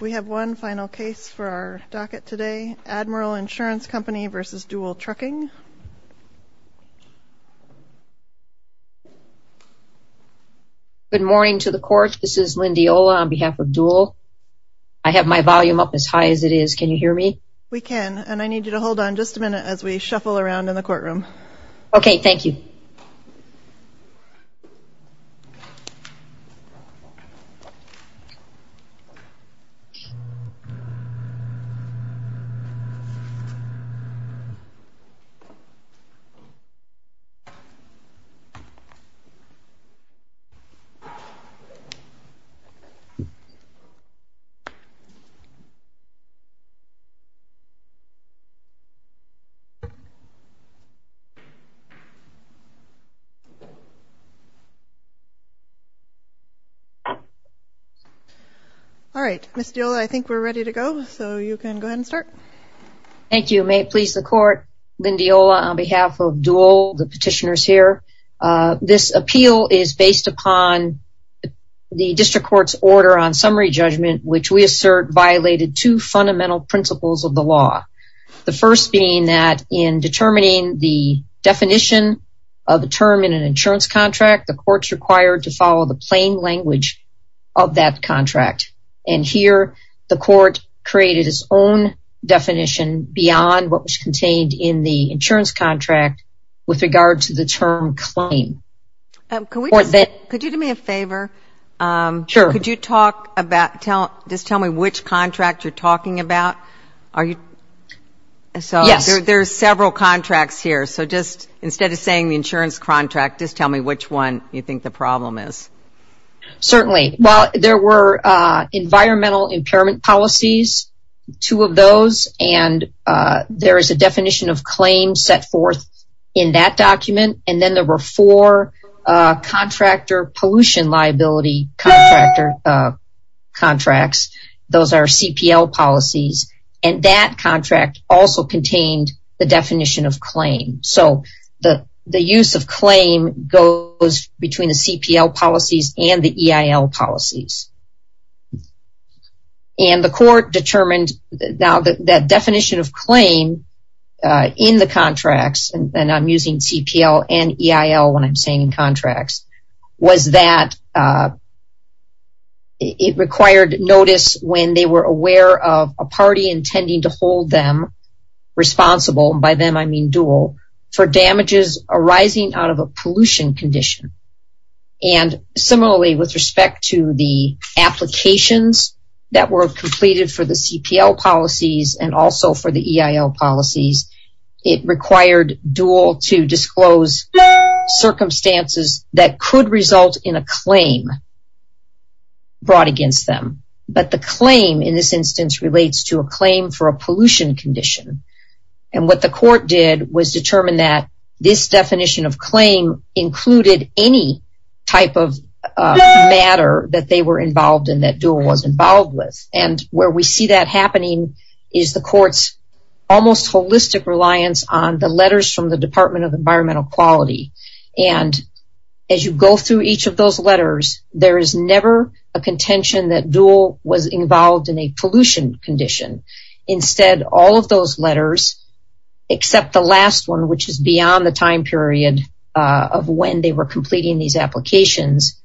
We have one final case for our docket today. Admiral Insurance Company v. Dual Trucking. Good morning to the court. This is Lindy Ola on behalf of Dual. I have my volume up as high as it is. Can you hear me? We can, and I need you to hold on just a minute as we shuffle around in the courtroom. Okay, thank you. Thank you. All right, Ms. Dual, I think we're ready to go, so you can go ahead and start. Thank you. May it please the court, Lindy Ola on behalf of Dual, the petitioners here. This appeal is based upon the district court's order on summary judgment, which we assert violated two fundamental principles of the law. The first being that in determining the definition of a term in an insurance contract, the court's required to follow the plain language of that contract. And here, the court created its own definition beyond what was contained in the insurance contract with regard to the term claim. Could you do me a favor? Sure. Could you just tell me which contract you're talking about? Yes. There are several contracts here, so just instead of saying the insurance contract, just tell me which one you think the problem is. Certainly. Well, there were environmental impairment policies, two of those, and there is a definition of claim set forth in that document. And then there were four contractor pollution liability contracts. Those are CPL policies. And that contract also contained the definition of claim. So the use of claim goes between the CPL policies and the EIL policies. And the court determined that definition of claim in the contracts, and I'm using CPL and EIL when I'm saying contracts, was that it required notice when they were aware of a party intending to hold them responsible. By them I mean dual, for damages arising out of a pollution condition. And similarly with respect to the applications that were completed for the CPL policies and also for the EIL policies, it required dual to disclose circumstances that could result in a claim brought against them. But the claim in this instance relates to a claim for a pollution condition. And what the court did was determine that this definition of claim included any type of matter that they were involved in that dual was involved with. And where we see that happening is the court's almost holistic reliance on the letters from the Department of Environmental Quality. And as you go through each of those letters, there is never a contention that dual was involved in a pollution condition. Instead, all of those letters, except the last one, which is beyond the time period of when they were completing these applications,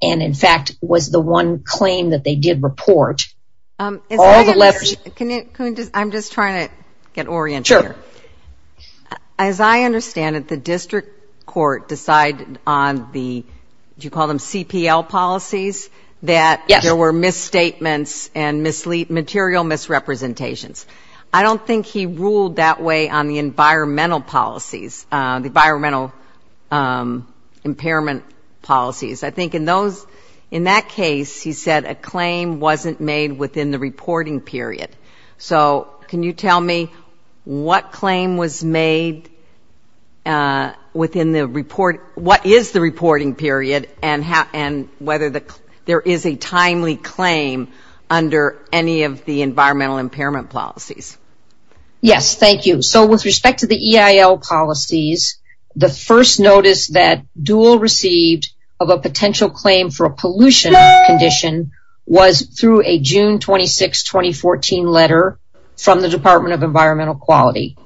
and in fact was the one claim that they did report, all the letters. I'm just trying to get oriented here. Sure. As I understand it, the district court decided on the, do you call them CPL policies, that there were misstatements and material misrepresentations. I don't think he ruled that way on the environmental policies, the environmental impairment policies. I think in those, in that case, he said a claim wasn't made within the reporting period. So can you tell me what claim was made within the report, what is the reporting period, and whether there is a timely claim under any of the environmental impairment policies? Yes, thank you. So with respect to the EIL policies, the first notice that dual received of a potential claim for a pollution condition was through a June 26, 2014 letter from the Department of Environmental Quality.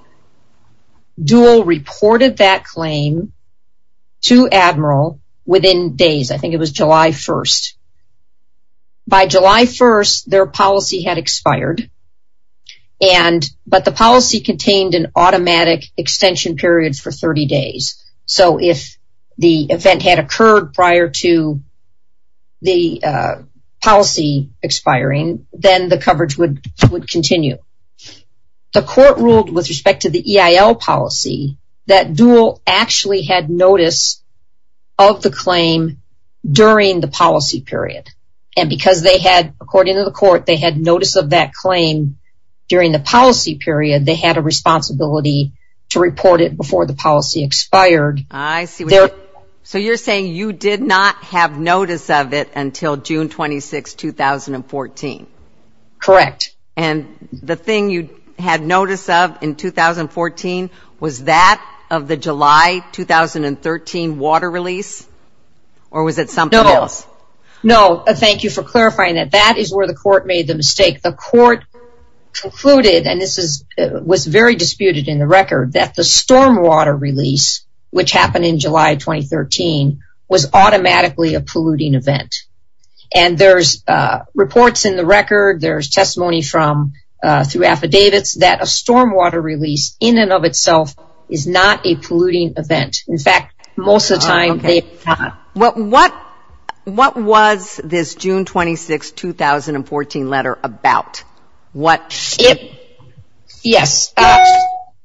Dual reported that claim to Admiral within days. I think it was July 1st. By July 1st, their policy had expired, but the policy contained an automatic extension period for 30 days. So if the event had occurred prior to the policy expiring, then the coverage would continue. The court ruled with respect to the EIL policy, that Dual actually had notice of the claim during the policy period. And because they had, according to the court, they had notice of that claim during the policy period, they had a responsibility to report it before the policy expired. I see. So you're saying you did not have notice of it until June 26, 2014? Correct. And the thing you had notice of in 2014, was that of the July 2013 water release? Or was it something else? No, thank you for clarifying that. That is where the court made the mistake. The court concluded, and this was very disputed in the record, that the stormwater release, which happened in July 2013, was automatically a polluting event. And there's reports in the record, there's testimony through affidavits, that a stormwater release, in and of itself, is not a polluting event. In fact, most of the time they are not. What was this June 26, 2014 letter about? Yes,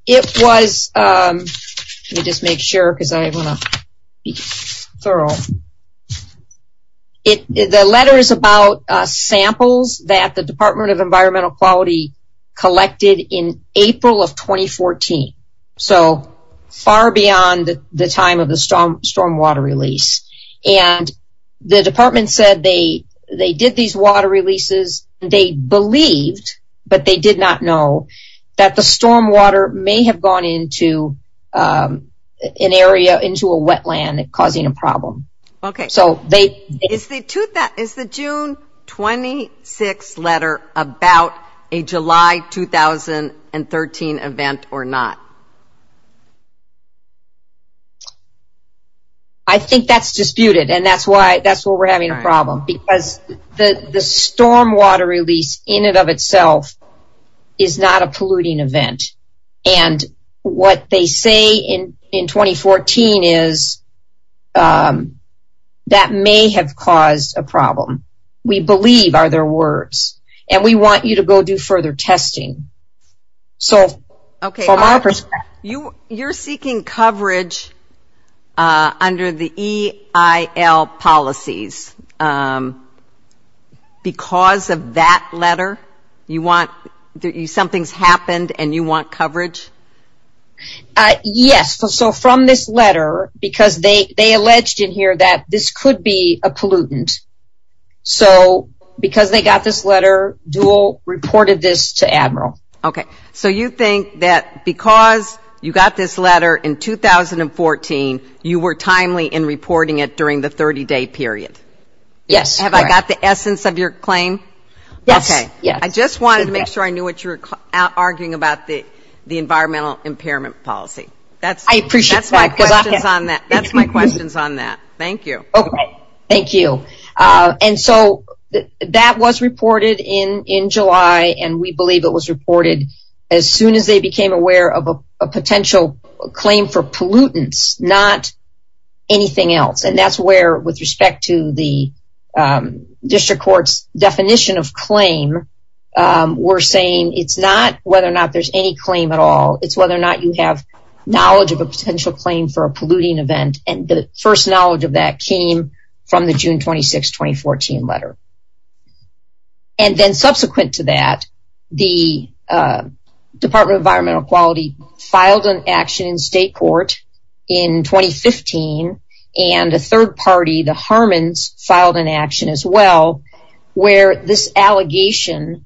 it was, let me just make sure, because I want to be thorough. The letter is about samples that the Department of Environmental Quality collected in April of 2014. So far beyond the time of the stormwater release. And the department said they did these water releases. They believed, but they did not know, that the stormwater may have gone into an area, into a wetland, causing a problem. Okay. So they... Is the June 26 letter about a July 2013 event or not? I think that's disputed, and that's why, that's why we're having a problem. Because the stormwater release, in and of itself, is not a polluting event. And what they say in 2014 is, that may have caused a problem. We believe are their words. And we want you to go do further testing. So, from our perspective... You're seeking coverage under the EIL policies, because of that letter? You want, something's happened and you want coverage? Yes, so from this letter, because they alleged in here that this could be a pollutant. So, because they got this letter, Dual reported this to Admiral. Okay. So you think that because you got this letter in 2014, you were timely in reporting it during the 30-day period? Yes. Have I got the essence of your claim? Yes. Okay. I just wanted to make sure I knew what you were arguing about, the environmental impairment policy. I appreciate that. That's my questions on that. That's my questions on that. Thank you. Okay. Thank you. And so, that was reported in July, and we believe it was reported as soon as they became aware of a potential claim for pollutants, not anything else. And that's where, with respect to the District Court's definition of claim, we're saying it's not whether or not there's any claim at all, it's whether or not you have knowledge of a potential claim for a polluting event. And the first knowledge of that came from the June 26, 2014 letter. And then subsequent to that, the Department of Environmental Quality filed an action in state court in 2015, and a third party, the Harmons, filed an action as well, where this allegation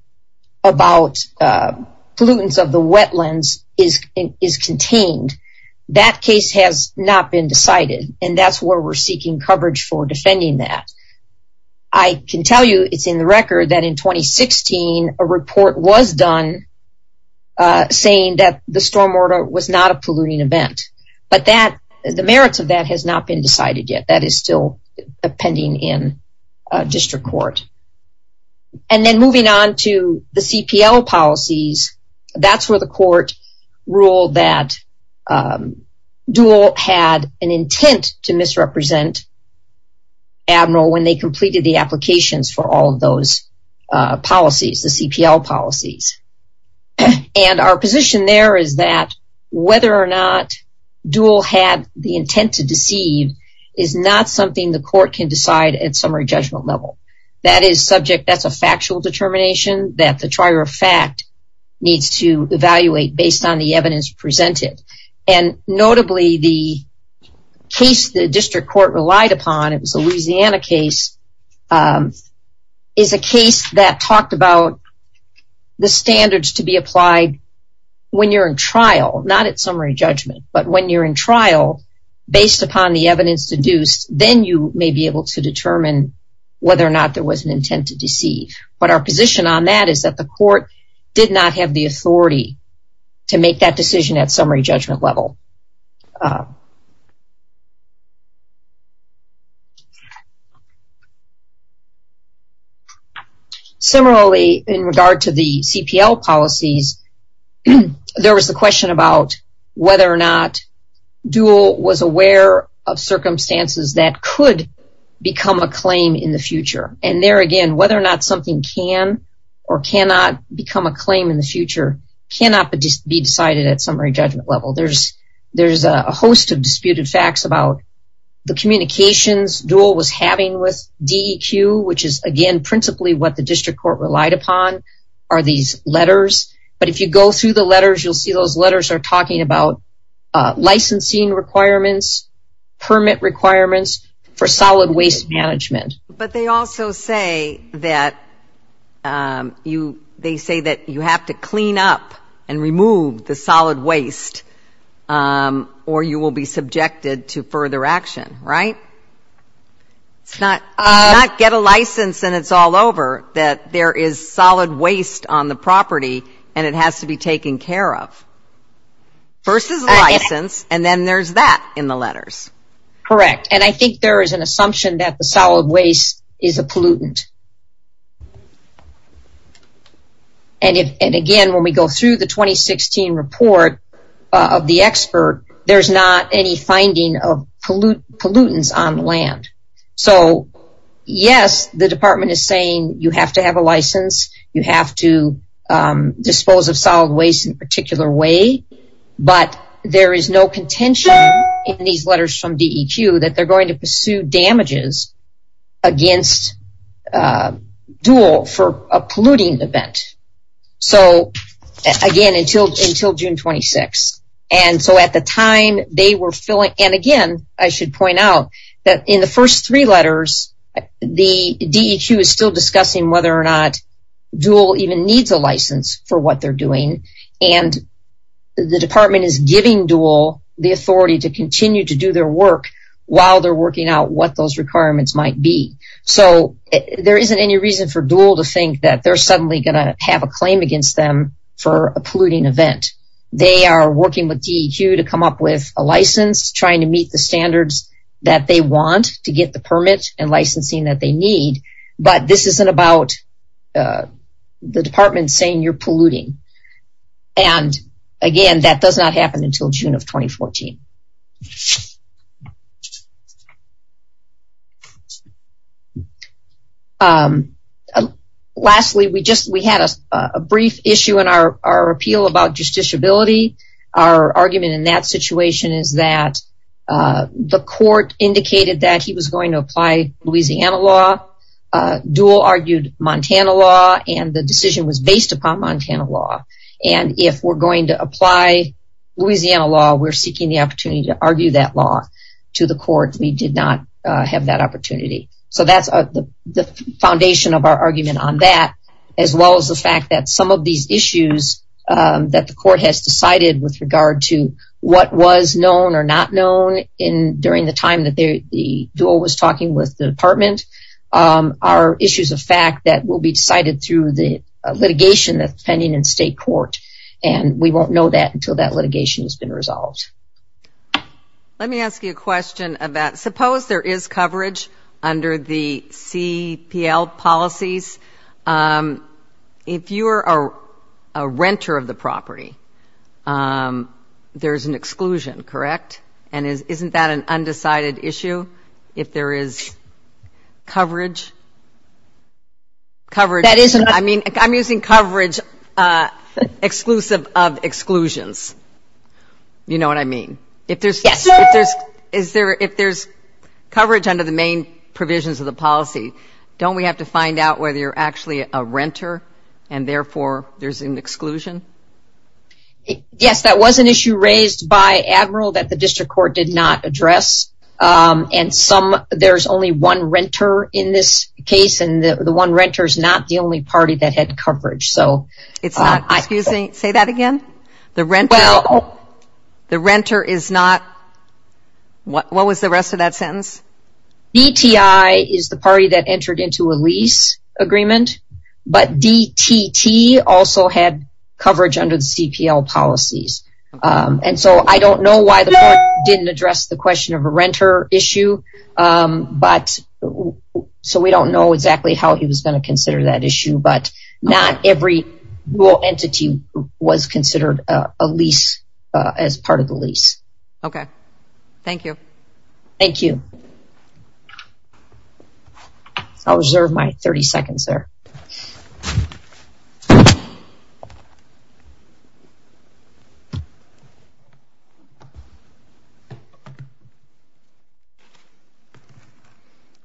about pollutants of the wetlands is contained. That case has not been decided, and that's where we're seeking coverage for defending that. I can tell you it's in the record that in 2016, a report was done saying that the storm water was not a polluting event. But the merits of that has not been decided yet. That is still pending in district court. And then moving on to the CPL policies, that's where the court ruled that Dual had an intent to misrepresent Admiral when they completed the applications for all of those policies, the CPL policies. And our position there is that whether or not Dual had the intent to deceive is not something the court can decide at summary judgment level. That is subject, that's a factual determination, that the trier of fact needs to evaluate based on the evidence presented. And notably, the case the district court relied upon, it was a Louisiana case, is a case that talked about the standards to be applied when you're in trial, not at summary judgment, but when you're in trial, based upon the evidence deduced, then you may be able to determine whether or not there was an intent to deceive. But our position on that is that the court did not have the authority to make that decision at summary judgment level. Similarly, in regard to the CPL policies, there was the question about whether or not Dual was aware of circumstances that could become a claim in the future. And there again, whether or not something can or cannot become a claim in the future cannot be decided at summary judgment level. There's a host of disputed facts about the communications Dual was having with DEQ, which is, again, principally what the district court relied upon, are these letters. But if you go through the letters, you'll see those letters are talking about licensing requirements, permit requirements for solid waste management. But they also say that you have to clean up and remove the solid waste or you will be subjected to further action, right? It's not get a license and it's all over, that there is solid waste on the property and it has to be taken care of. First is license, and then there's that in the letters. Correct. And I think there is an assumption that the solid waste is a pollutant. And again, when we go through the 2016 report of the expert, there's not any finding of pollutants on land. So, yes, the department is saying you have to have a license, you have to dispose of solid waste in a particular way, but there is no contention in these letters from DEQ that they're going to pursue damages against Dual for a polluting event. So, again, until June 26. And so at the time they were filling, and again, I should point out that in the first three letters, the DEQ is still discussing whether or not Dual even needs a license for what they're doing. And the department is giving Dual the authority to continue to do their work while they're working out what those requirements might be. So, there isn't any reason for Dual to think that they're suddenly going to have a claim against them for a polluting event. They are working with DEQ to come up with a license, trying to meet the standards that they want to get the permit and licensing that they need, but this isn't about the department saying you're polluting. And, again, that does not happen until June of 2014. Lastly, we had a brief issue in our appeal about justiciability. Our argument in that situation is that the court indicated that he was going to Dual argued Montana law, and the decision was based upon Montana law. And if we're going to apply Louisiana law, we're seeking the opportunity to argue that law to the court. We did not have that opportunity. So that's the foundation of our argument on that, as well as the fact that some of these issues that the court has decided with regard to what was known or not known during the time that Dual was talking with the department are issues of fact that will be decided through the litigation that's pending in state court, and we won't know that until that litigation has been resolved. Let me ask you a question about, suppose there is coverage under the CPL policies. If you are a renter of the property, there's an exclusion, correct? And isn't that an undecided issue if there is coverage? I'm using coverage exclusive of exclusions. You know what I mean. If there's coverage under the main provisions of the policy, don't we have to find out whether you're actually a renter, and therefore there's an exclusion? Yes, that was an issue raised by Admiral that the district court did not address, and there's only one renter in this case, and the one renter is not the only party that had coverage. Say that again? The renter is not, what was the rest of that sentence? DTI is the party that entered into a lease agreement, but DTT also had coverage under the CPL policies, and so I don't know why the court didn't address the question of a renter issue, so we don't know exactly how he was going to consider that issue, but not every entity was considered a lease as part of the lease. Okay. Thank you. Thank you. I'll reserve my 30 seconds there.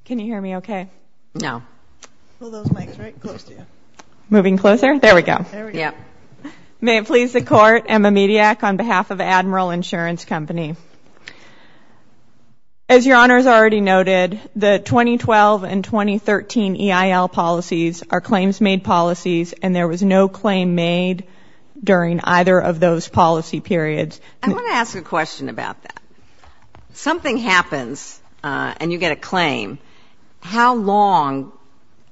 Can you hear me okay? No. Pull those mics right close to you. Moving closer? There we go. There we go. May it please the court, Emma Mediak on behalf of Admiral Insurance Company. As Your Honor has already noted, the 2012 and 2013 EIL policies are claims-made policies, and there was no claim made during either of those policy periods. I want to ask a question about that. Something happens and you get a claim. How long,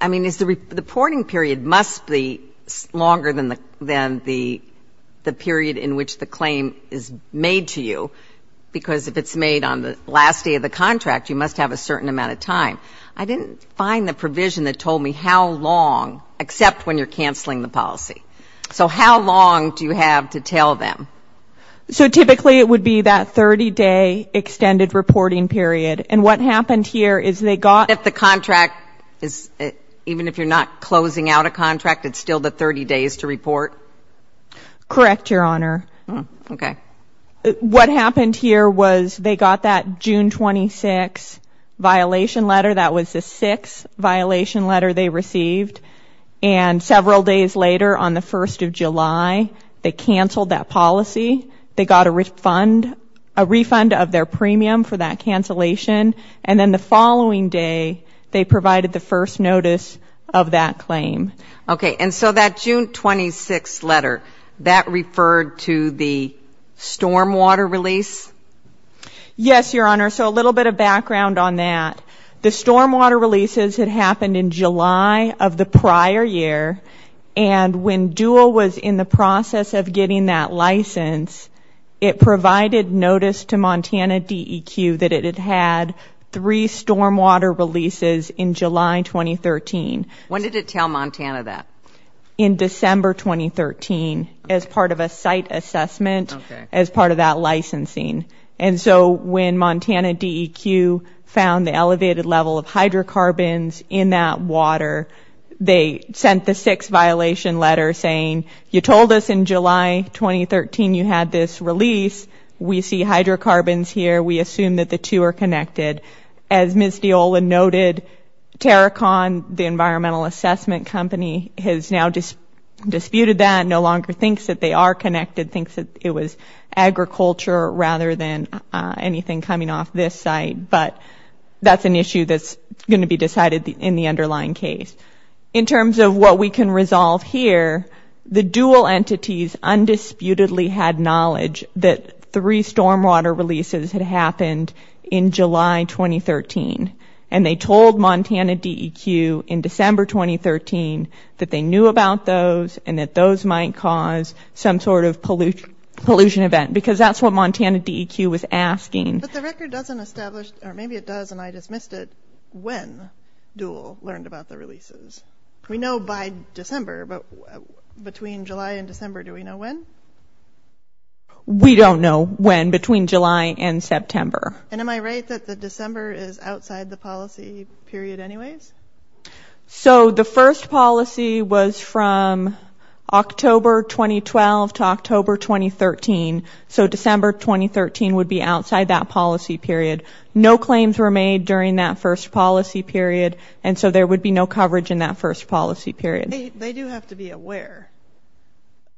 I mean, is the reporting period must be longer than the period in which the claim is made to you. Because if it's made on the last day of the contract, you must have a certain amount of time. I didn't find the provision that told me how long, except when you're canceling the policy. So how long do you have to tell them? So typically it would be that 30-day extended reporting period. And what happened here is they got the contract, even if you're not closing out a contract, it's still the 30 days to report? Correct, Your Honor. Okay. What happened here was they got that June 26th violation letter. That was the sixth violation letter they received. And several days later, on the 1st of July, they canceled that policy. They got a refund of their premium for that cancellation. And then the following day, they provided the first notice of that claim. Okay. And so that June 26th letter, that referred to the stormwater release? Yes, Your Honor. So a little bit of background on that. The stormwater releases had happened in July of the prior year. And when DUAL was in the process of getting that license, it provided notice to Montana DEQ that it had had three stormwater releases in July 2013. When did it tell Montana that? In December 2013 as part of a site assessment, as part of that licensing. And so when Montana DEQ found the elevated level of hydrocarbons in that water, they sent the sixth violation letter saying, you told us in July 2013 you had this release. We see hydrocarbons here. We assume that the two are connected. As Ms. Deola noted, Terracon, the environmental assessment company, has now disputed that, no longer thinks that they are connected, thinks that it was agriculture rather than anything coming off this site. But that's an issue that's going to be decided in the underlying case. In terms of what we can resolve here, the DUAL entities undisputedly had knowledge that three stormwater releases had happened in July 2013. And they told Montana DEQ in December 2013 that they knew about those and that those might cause some sort of pollution event because that's what Montana DEQ was asking. But the record doesn't establish, or maybe it does and I just missed it, when DUAL learned about the releases. We know by December, but between July and December, do we know when? We don't know when between July and September. And am I right that the December is outside the policy period anyways? So the first policy was from October 2012 to October 2013. So December 2013 would be outside that policy period. No claims were made during that first policy period, and so there would be no coverage in that first policy period. They do have to be aware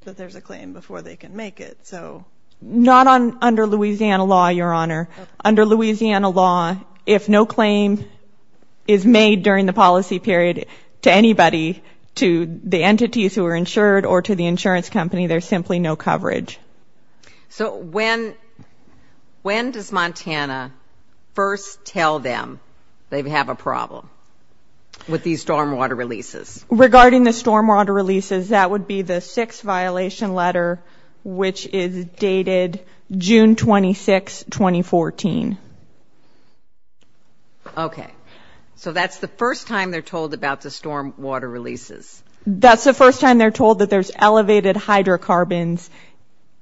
that there's a claim before they can make it. Not under Louisiana law, Your Honor. Under Louisiana law, if no claim is made during the policy period to anybody, to the entities who are insured or to the insurance company, there's simply no coverage. So when does Montana first tell them they have a problem with these stormwater releases? Regarding the stormwater releases, that would be the sixth violation letter, which is dated June 26, 2014. Okay. So that's the first time they're told about the stormwater releases. That's the first time they're told that there's elevated hydrocarbons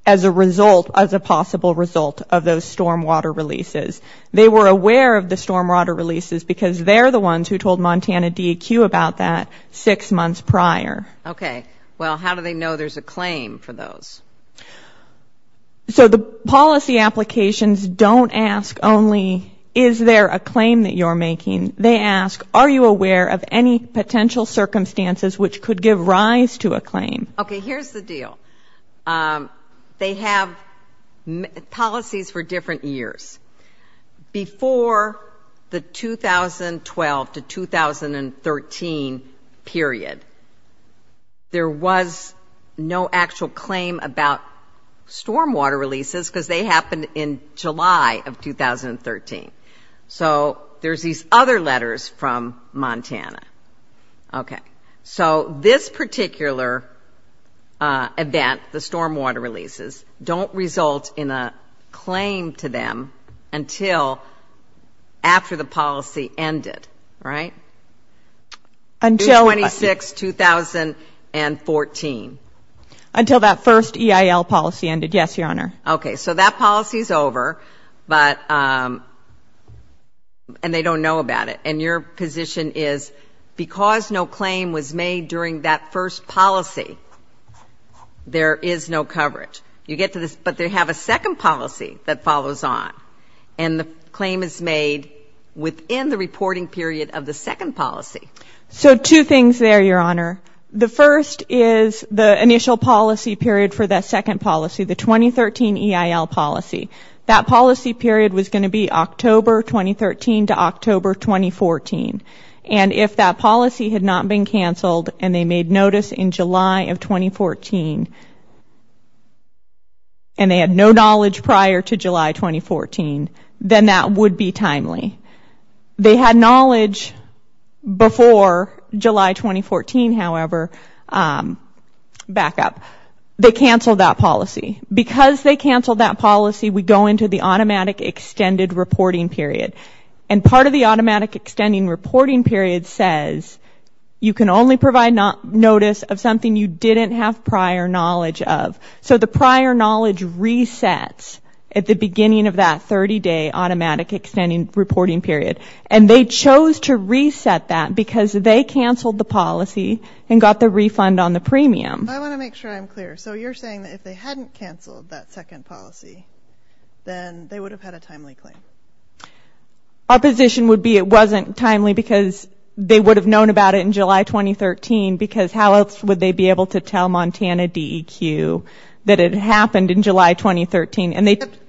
as a result, as a possible result, of those stormwater releases. They were aware of the stormwater releases because they're the ones who told Montana DEQ about that six months prior. Okay. Well, how do they know there's a claim for those? So the policy applications don't ask only, is there a claim that you're making? They ask, are you aware of any potential circumstances which could give rise to a claim? Okay, here's the deal. They have policies for different years. Before the 2012 to 2013 period, there was no actual claim about stormwater releases because they happened in July of 2013. So there's these other letters from Montana. Okay. So this particular event, the stormwater releases, don't result in a claim to them until after the policy ended, right? Until what? June 26, 2014. Until that first EIL policy ended. Yes, Your Honor. Okay. So that policy's over, and they don't know about it. And your position is because no claim was made during that first policy, there is no coverage. You get to this, but they have a second policy that follows on, and the claim is made within the reporting period of the second policy. So two things there, Your Honor. The first is the initial policy period for that second policy, the 2013 EIL policy. That policy period was going to be October 2013 to October 2014, and if that policy had not been canceled and they made notice in July of 2014 and they had no knowledge prior to July 2014, then that would be timely. They had knowledge before July 2014, however, back up. They canceled that policy. Because they canceled that policy, we go into the automatic extended reporting period, and part of the automatic extending reporting period says you can only provide notice of something you didn't have prior knowledge of. So the prior knowledge resets at the beginning of that 30-day automatic extending reporting period, and they chose to reset that because they canceled the policy and got the refund on the premium. I want to make sure I'm clear. So you're saying that if they hadn't canceled that second policy, then they would have had a timely claim? Our position would be it wasn't timely because they would have known about it in July 2013 because how else would they be able to tell Montana DEQ that it happened in July 2013?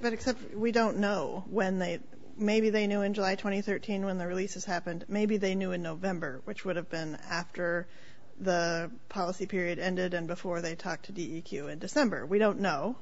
But except we don't know when they – maybe they knew in July 2013 when the releases happened. Maybe they knew in November, which would have been after the policy period ended and before they talked to DEQ in December. We don't know.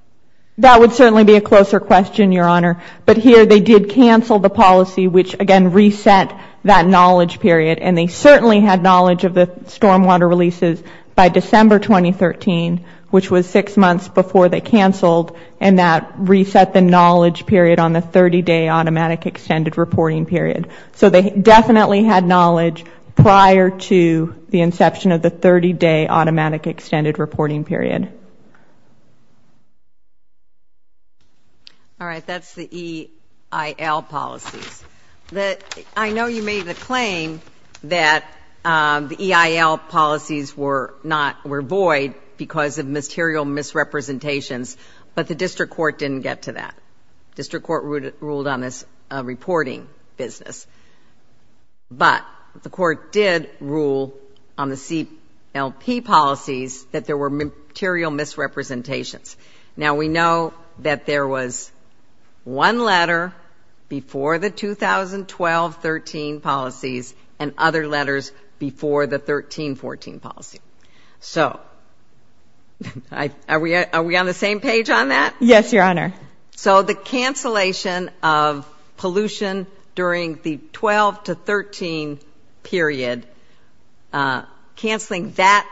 That would certainly be a closer question, Your Honor. But here they did cancel the policy, which, again, reset that knowledge period, and they certainly had knowledge of the stormwater releases by December 2013, which was six months before they canceled, and that reset the knowledge period on the 30-day automatic extended reporting period. So they definitely had knowledge prior to the inception of the 30-day automatic extended reporting period. All right. That's the EIL policies. I know you made the claim that the EIL policies were void because of material misrepresentations, but the district court didn't get to that. District court ruled on this reporting business. But the court did rule on the CLP policies that there were material misrepresentations. Now, we know that there was one letter before the 2012-13 policies and other letters before the 2013-14 policy. So are we on the same page on that? Yes, Your Honor. So the cancellation of pollution during the 2012-13 period, canceling that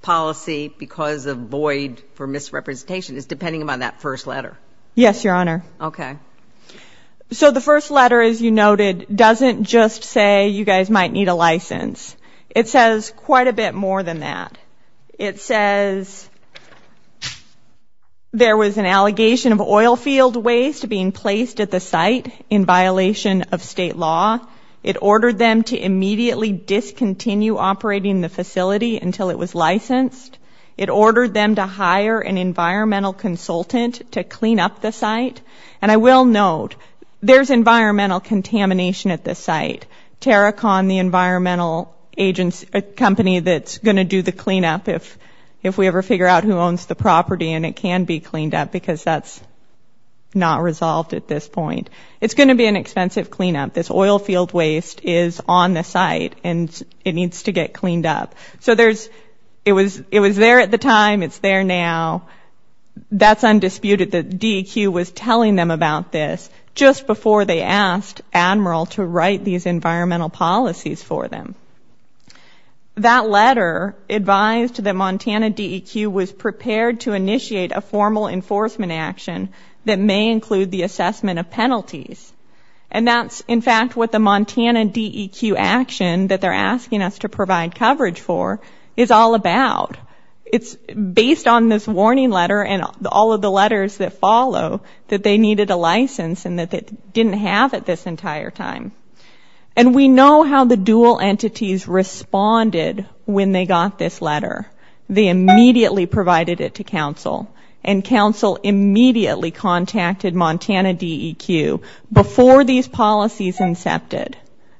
policy because of void for misrepresentation is depending upon that first letter? Yes, Your Honor. Okay. So the first letter, as you noted, doesn't just say you guys might need a license. It says quite a bit more than that. It says there was an allegation of oil field waste being placed at the site in violation of state law. It ordered them to immediately discontinue operating the facility until it was licensed. It ordered them to hire an environmental consultant to clean up the site. And I will note there's environmental contamination at this site. It's TerraCon, the environmental company that's going to do the cleanup if we ever figure out who owns the property and it can be cleaned up because that's not resolved at this point. It's going to be an expensive cleanup. This oil field waste is on the site and it needs to get cleaned up. So it was there at the time. It's there now. That's undisputed. The DEQ was telling them about this just before they asked Admiral to write these environmental policies for them. That letter advised that Montana DEQ was prepared to initiate a formal enforcement action that may include the assessment of penalties. And that's, in fact, what the Montana DEQ action that they're asking us to provide coverage for is all about. It's based on this warning letter and all of the letters that follow that they needed a license and that they didn't have it this entire time. And we know how the dual entities responded when they got this letter. They immediately provided it to council and council immediately contacted Montana DEQ before these policies incepted.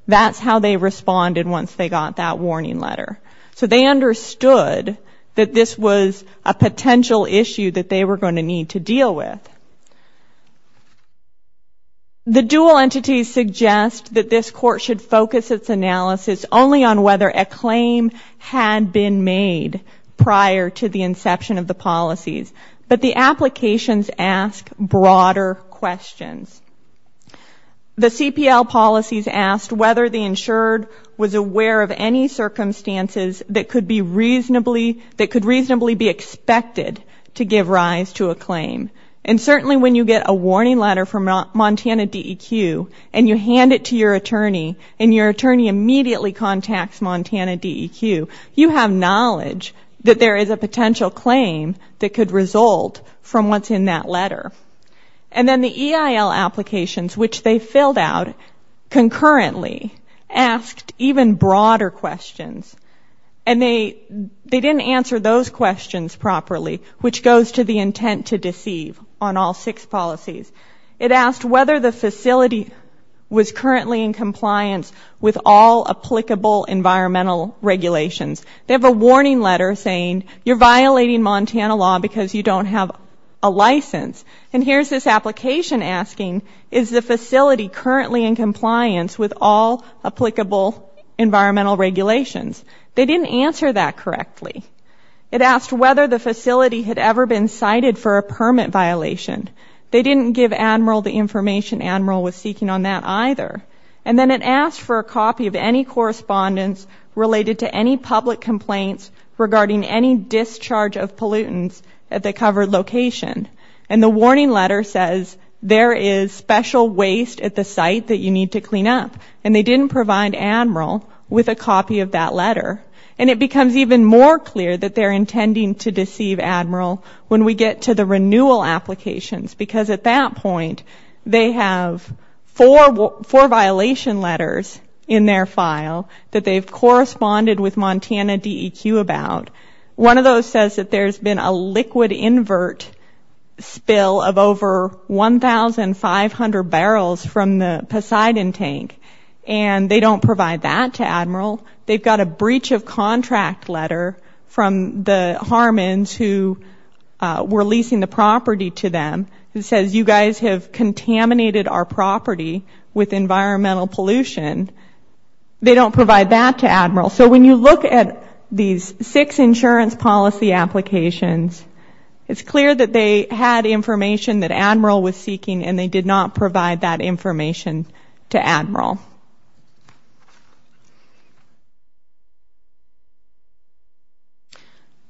That's how they responded once they got that warning letter. So they understood that this was a potential issue that they were going to need to deal with. The dual entities suggest that this court should focus its analysis only on whether a claim had been made prior to the inception of the policies. But the applications ask broader questions. The CPL policies asked whether the insured was aware of any circumstances that could reasonably be expected to give rise to a claim. And certainly when you get a warning letter from Montana DEQ and you hand it to your attorney and your attorney immediately contacts Montana DEQ, you have knowledge that there is a potential claim that could result from what's in that letter. And then the EIL applications, which they filled out concurrently, asked even broader questions. And they didn't answer those questions properly, which goes to the intent to deceive on all six policies. It asked whether the facility was currently in compliance with all applicable environmental regulations. They have a warning letter saying you're violating Montana law because you don't have a license. And here's this application asking, is the facility currently in compliance with all applicable environmental regulations? They didn't answer that correctly. It asked whether the facility had ever been cited for a permit violation. They didn't give Admiral the information Admiral was seeking on that either. And then it asked for a copy of any correspondence related to any public complaints regarding any discharge of pollutants at the covered location. And the warning letter says there is special waste at the site that you need to clean up. And they didn't provide Admiral with a copy of that letter. And it becomes even more clear that they're intending to deceive Admiral when we get to the renewal applications, because at that point they have four violation letters in their file that they've corresponded with Montana DEQ about. One of those says that there's been a liquid invert spill of over 1,500 barrels from the Poseidon tank. And they don't provide that to Admiral. They've got a breach of contract letter from the Harmans who were leasing the property to them. It says you guys have contaminated our property with environmental pollution. They don't provide that to Admiral. So when you look at these six insurance policy applications, it's clear that they had information that Admiral was seeking and they did not provide that information to Admiral.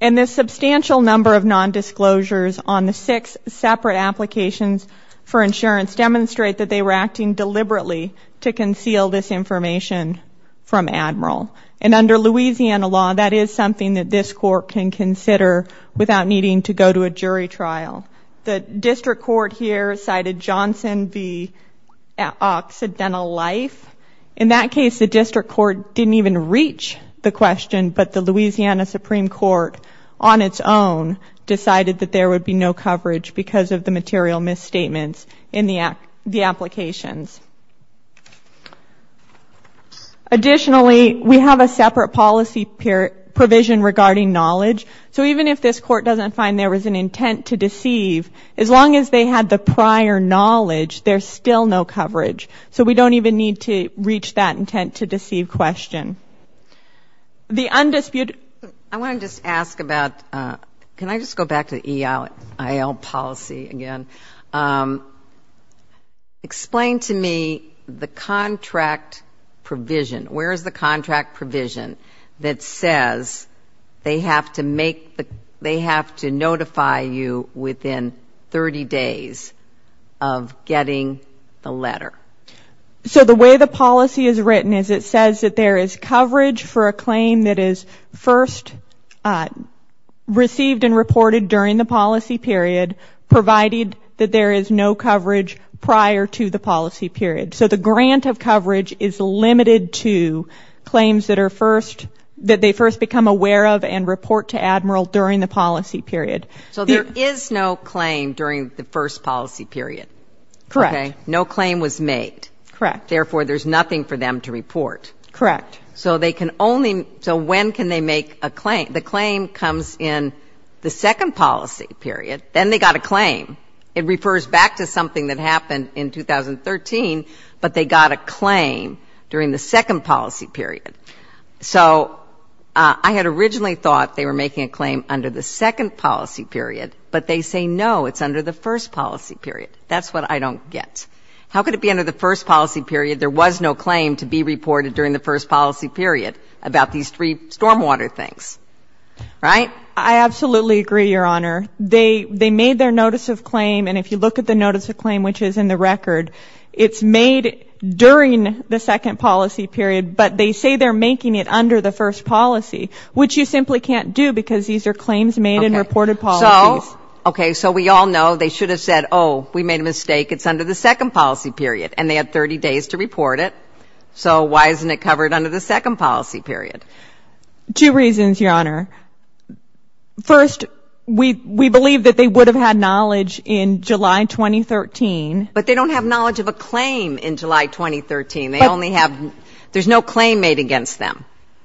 And this substantial number of nondisclosures on the six separate applications for insurance demonstrate that they were acting deliberately to conceal this information from Admiral. And under Louisiana law, that is something that this court can consider without needing to go to a jury trial. The district court here cited Johnson v. Occidental Life. In that case, the district court didn't even reach the question, but the Louisiana Supreme Court on its own decided that there would be no coverage because of the material misstatements in the applications. Additionally, we have a separate policy provision regarding knowledge. So even if this court doesn't find there was an intent to deceive, as long as they had the prior knowledge, there's still no coverage. So we don't even need to reach that intent to deceive question. The undisputed... I want to just ask about... Can I just go back to the EIL policy again? Explain to me the contract provision. Where is the contract provision that says they have to notify you within 30 days of getting the letter? So the way the policy is written is it says that there is coverage for a claim that is first received and reported during the policy period, provided that there is no coverage prior to the policy period. So the grant of coverage is limited to claims that are first, that they first become aware of and report to Admiral during the policy period. So there is no claim during the first policy period? Correct. Okay. No claim was made. Correct. Therefore, there's nothing for them to report. Correct. So they can only... So when can they make a claim? The claim comes in the second policy period. Then they got a claim. It refers back to something that happened in 2013, but they got a claim during the second policy period. So I had originally thought they were making a claim under the second policy period, but they say no, it's under the first policy period. That's what I don't get. How could it be under the first policy period? There was no claim to be reported during the first policy period about these three stormwater things, right? I absolutely agree, Your Honor. They made their notice of claim, and if you look at the notice of claim, which is in the record, it's made during the second policy period, but they say they're making it under the first policy, which you simply can't do because these are claims made in reported policies. Okay. So we all know they should have said, oh, we made a mistake, it's under the second policy period, and they had 30 days to report it. So why isn't it covered under the second policy period? Two reasons, Your Honor. First, we believe that they would have had knowledge in July 2013. But they don't have knowledge of a claim in July 2013. They only have... There's no claim made against them.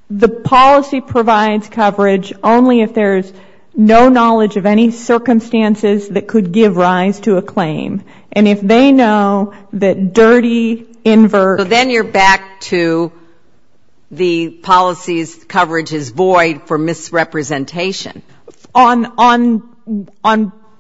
The policy provides coverage only if there's no knowledge of any circumstances that could give rise to a claim. And if they know that dirty, invert... So then you're back to the policy's coverage is void for misrepresentation. On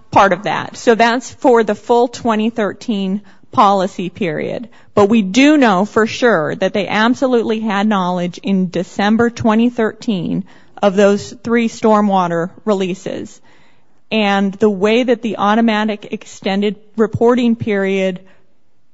part of that. So that's for the full 2013 policy period. But we do know for sure that they absolutely had knowledge in December 2013 of those three stormwater releases. And the way that the automatic extended reporting period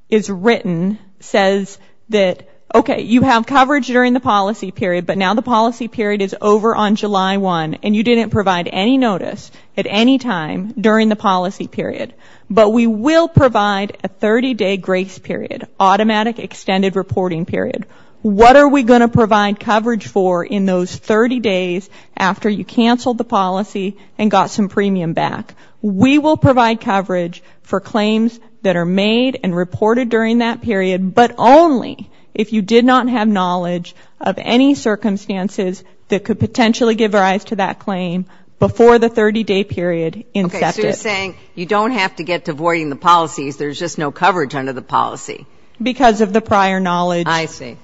is written says that, okay, you have coverage during the policy period, but now the policy period is over on July 1, and you didn't provide any notice at any time during the policy period. But we will provide a 30-day grace period, automatic extended reporting period. What are we going to provide coverage for in those 30 days after you canceled the policy and got some premium back? We will provide coverage for claims that are made and reported during that period, but only if you did not have knowledge of any circumstances that could potentially give rise to that claim before the 30-day period incepted. So you're saying you don't have to get to voiding the policies, there's just no coverage under the policy. Because of the prior knowledge. I see.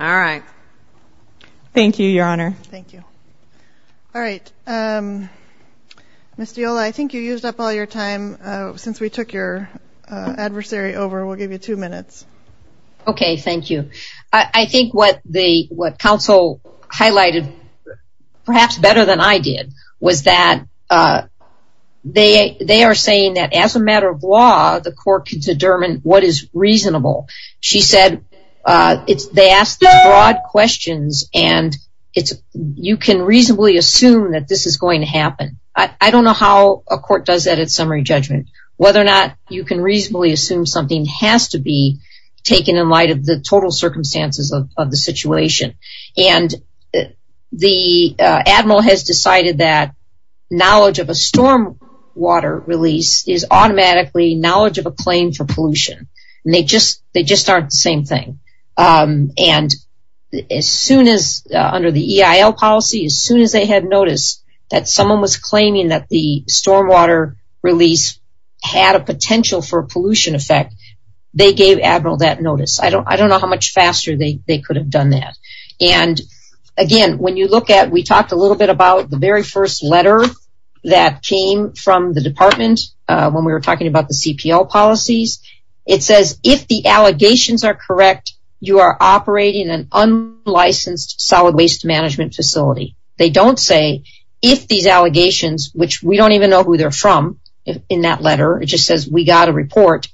All right. Thank you, Your Honor. Thank you. All right. Ms. Diola, I think you used up all your time since we took your adversary over. We'll give you two minutes. Okay, thank you. I think what counsel highlighted, perhaps better than I did, was that they are saying that as a matter of law, the court can determine what is reasonable. She said they asked broad questions, and you can reasonably assume that this is going to happen. I don't know how a court does that at summary judgment. Whether or not you can reasonably assume something has to be taken in light of the total circumstances of the situation. And the Admiral has decided that knowledge of a storm water release is automatically knowledge of a claim for pollution. They just aren't the same thing. And as soon as, under the EIL policy, as soon as they had noticed that someone was claiming that the storm water release had a potential for a pollution effect, they gave Admiral that notice. I don't know how much faster they could have done that. And, again, when you look at, we talked a little bit about the very first letter that came from the department when we were talking about the CPL policies. It says if the allegations are correct, you are operating an unlicensed solid waste management facility. They don't say if these allegations, which we don't even know who they're from in that letter, it just says we got a report,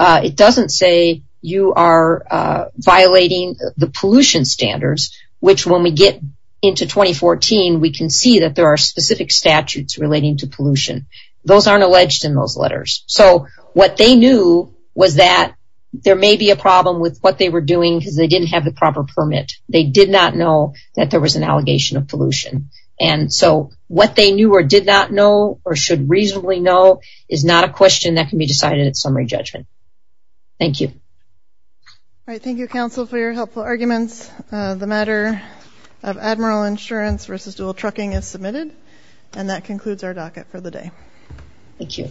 it doesn't say you are violating the pollution standards, which when we get into 2014, we can see that there are specific statutes relating to pollution. Those aren't alleged in those letters. So what they knew was that there may be a problem with what they were doing because they didn't have the proper permit. They did not know that there was an allegation of pollution. And so what they knew or did not know or should reasonably know is not a question that can be decided at summary judgment. Thank you. All right. Thank you, counsel, for your helpful arguments. The matter of Admiral Insurance versus dual trucking is submitted. And that concludes our docket for the day. Thank you. All rise.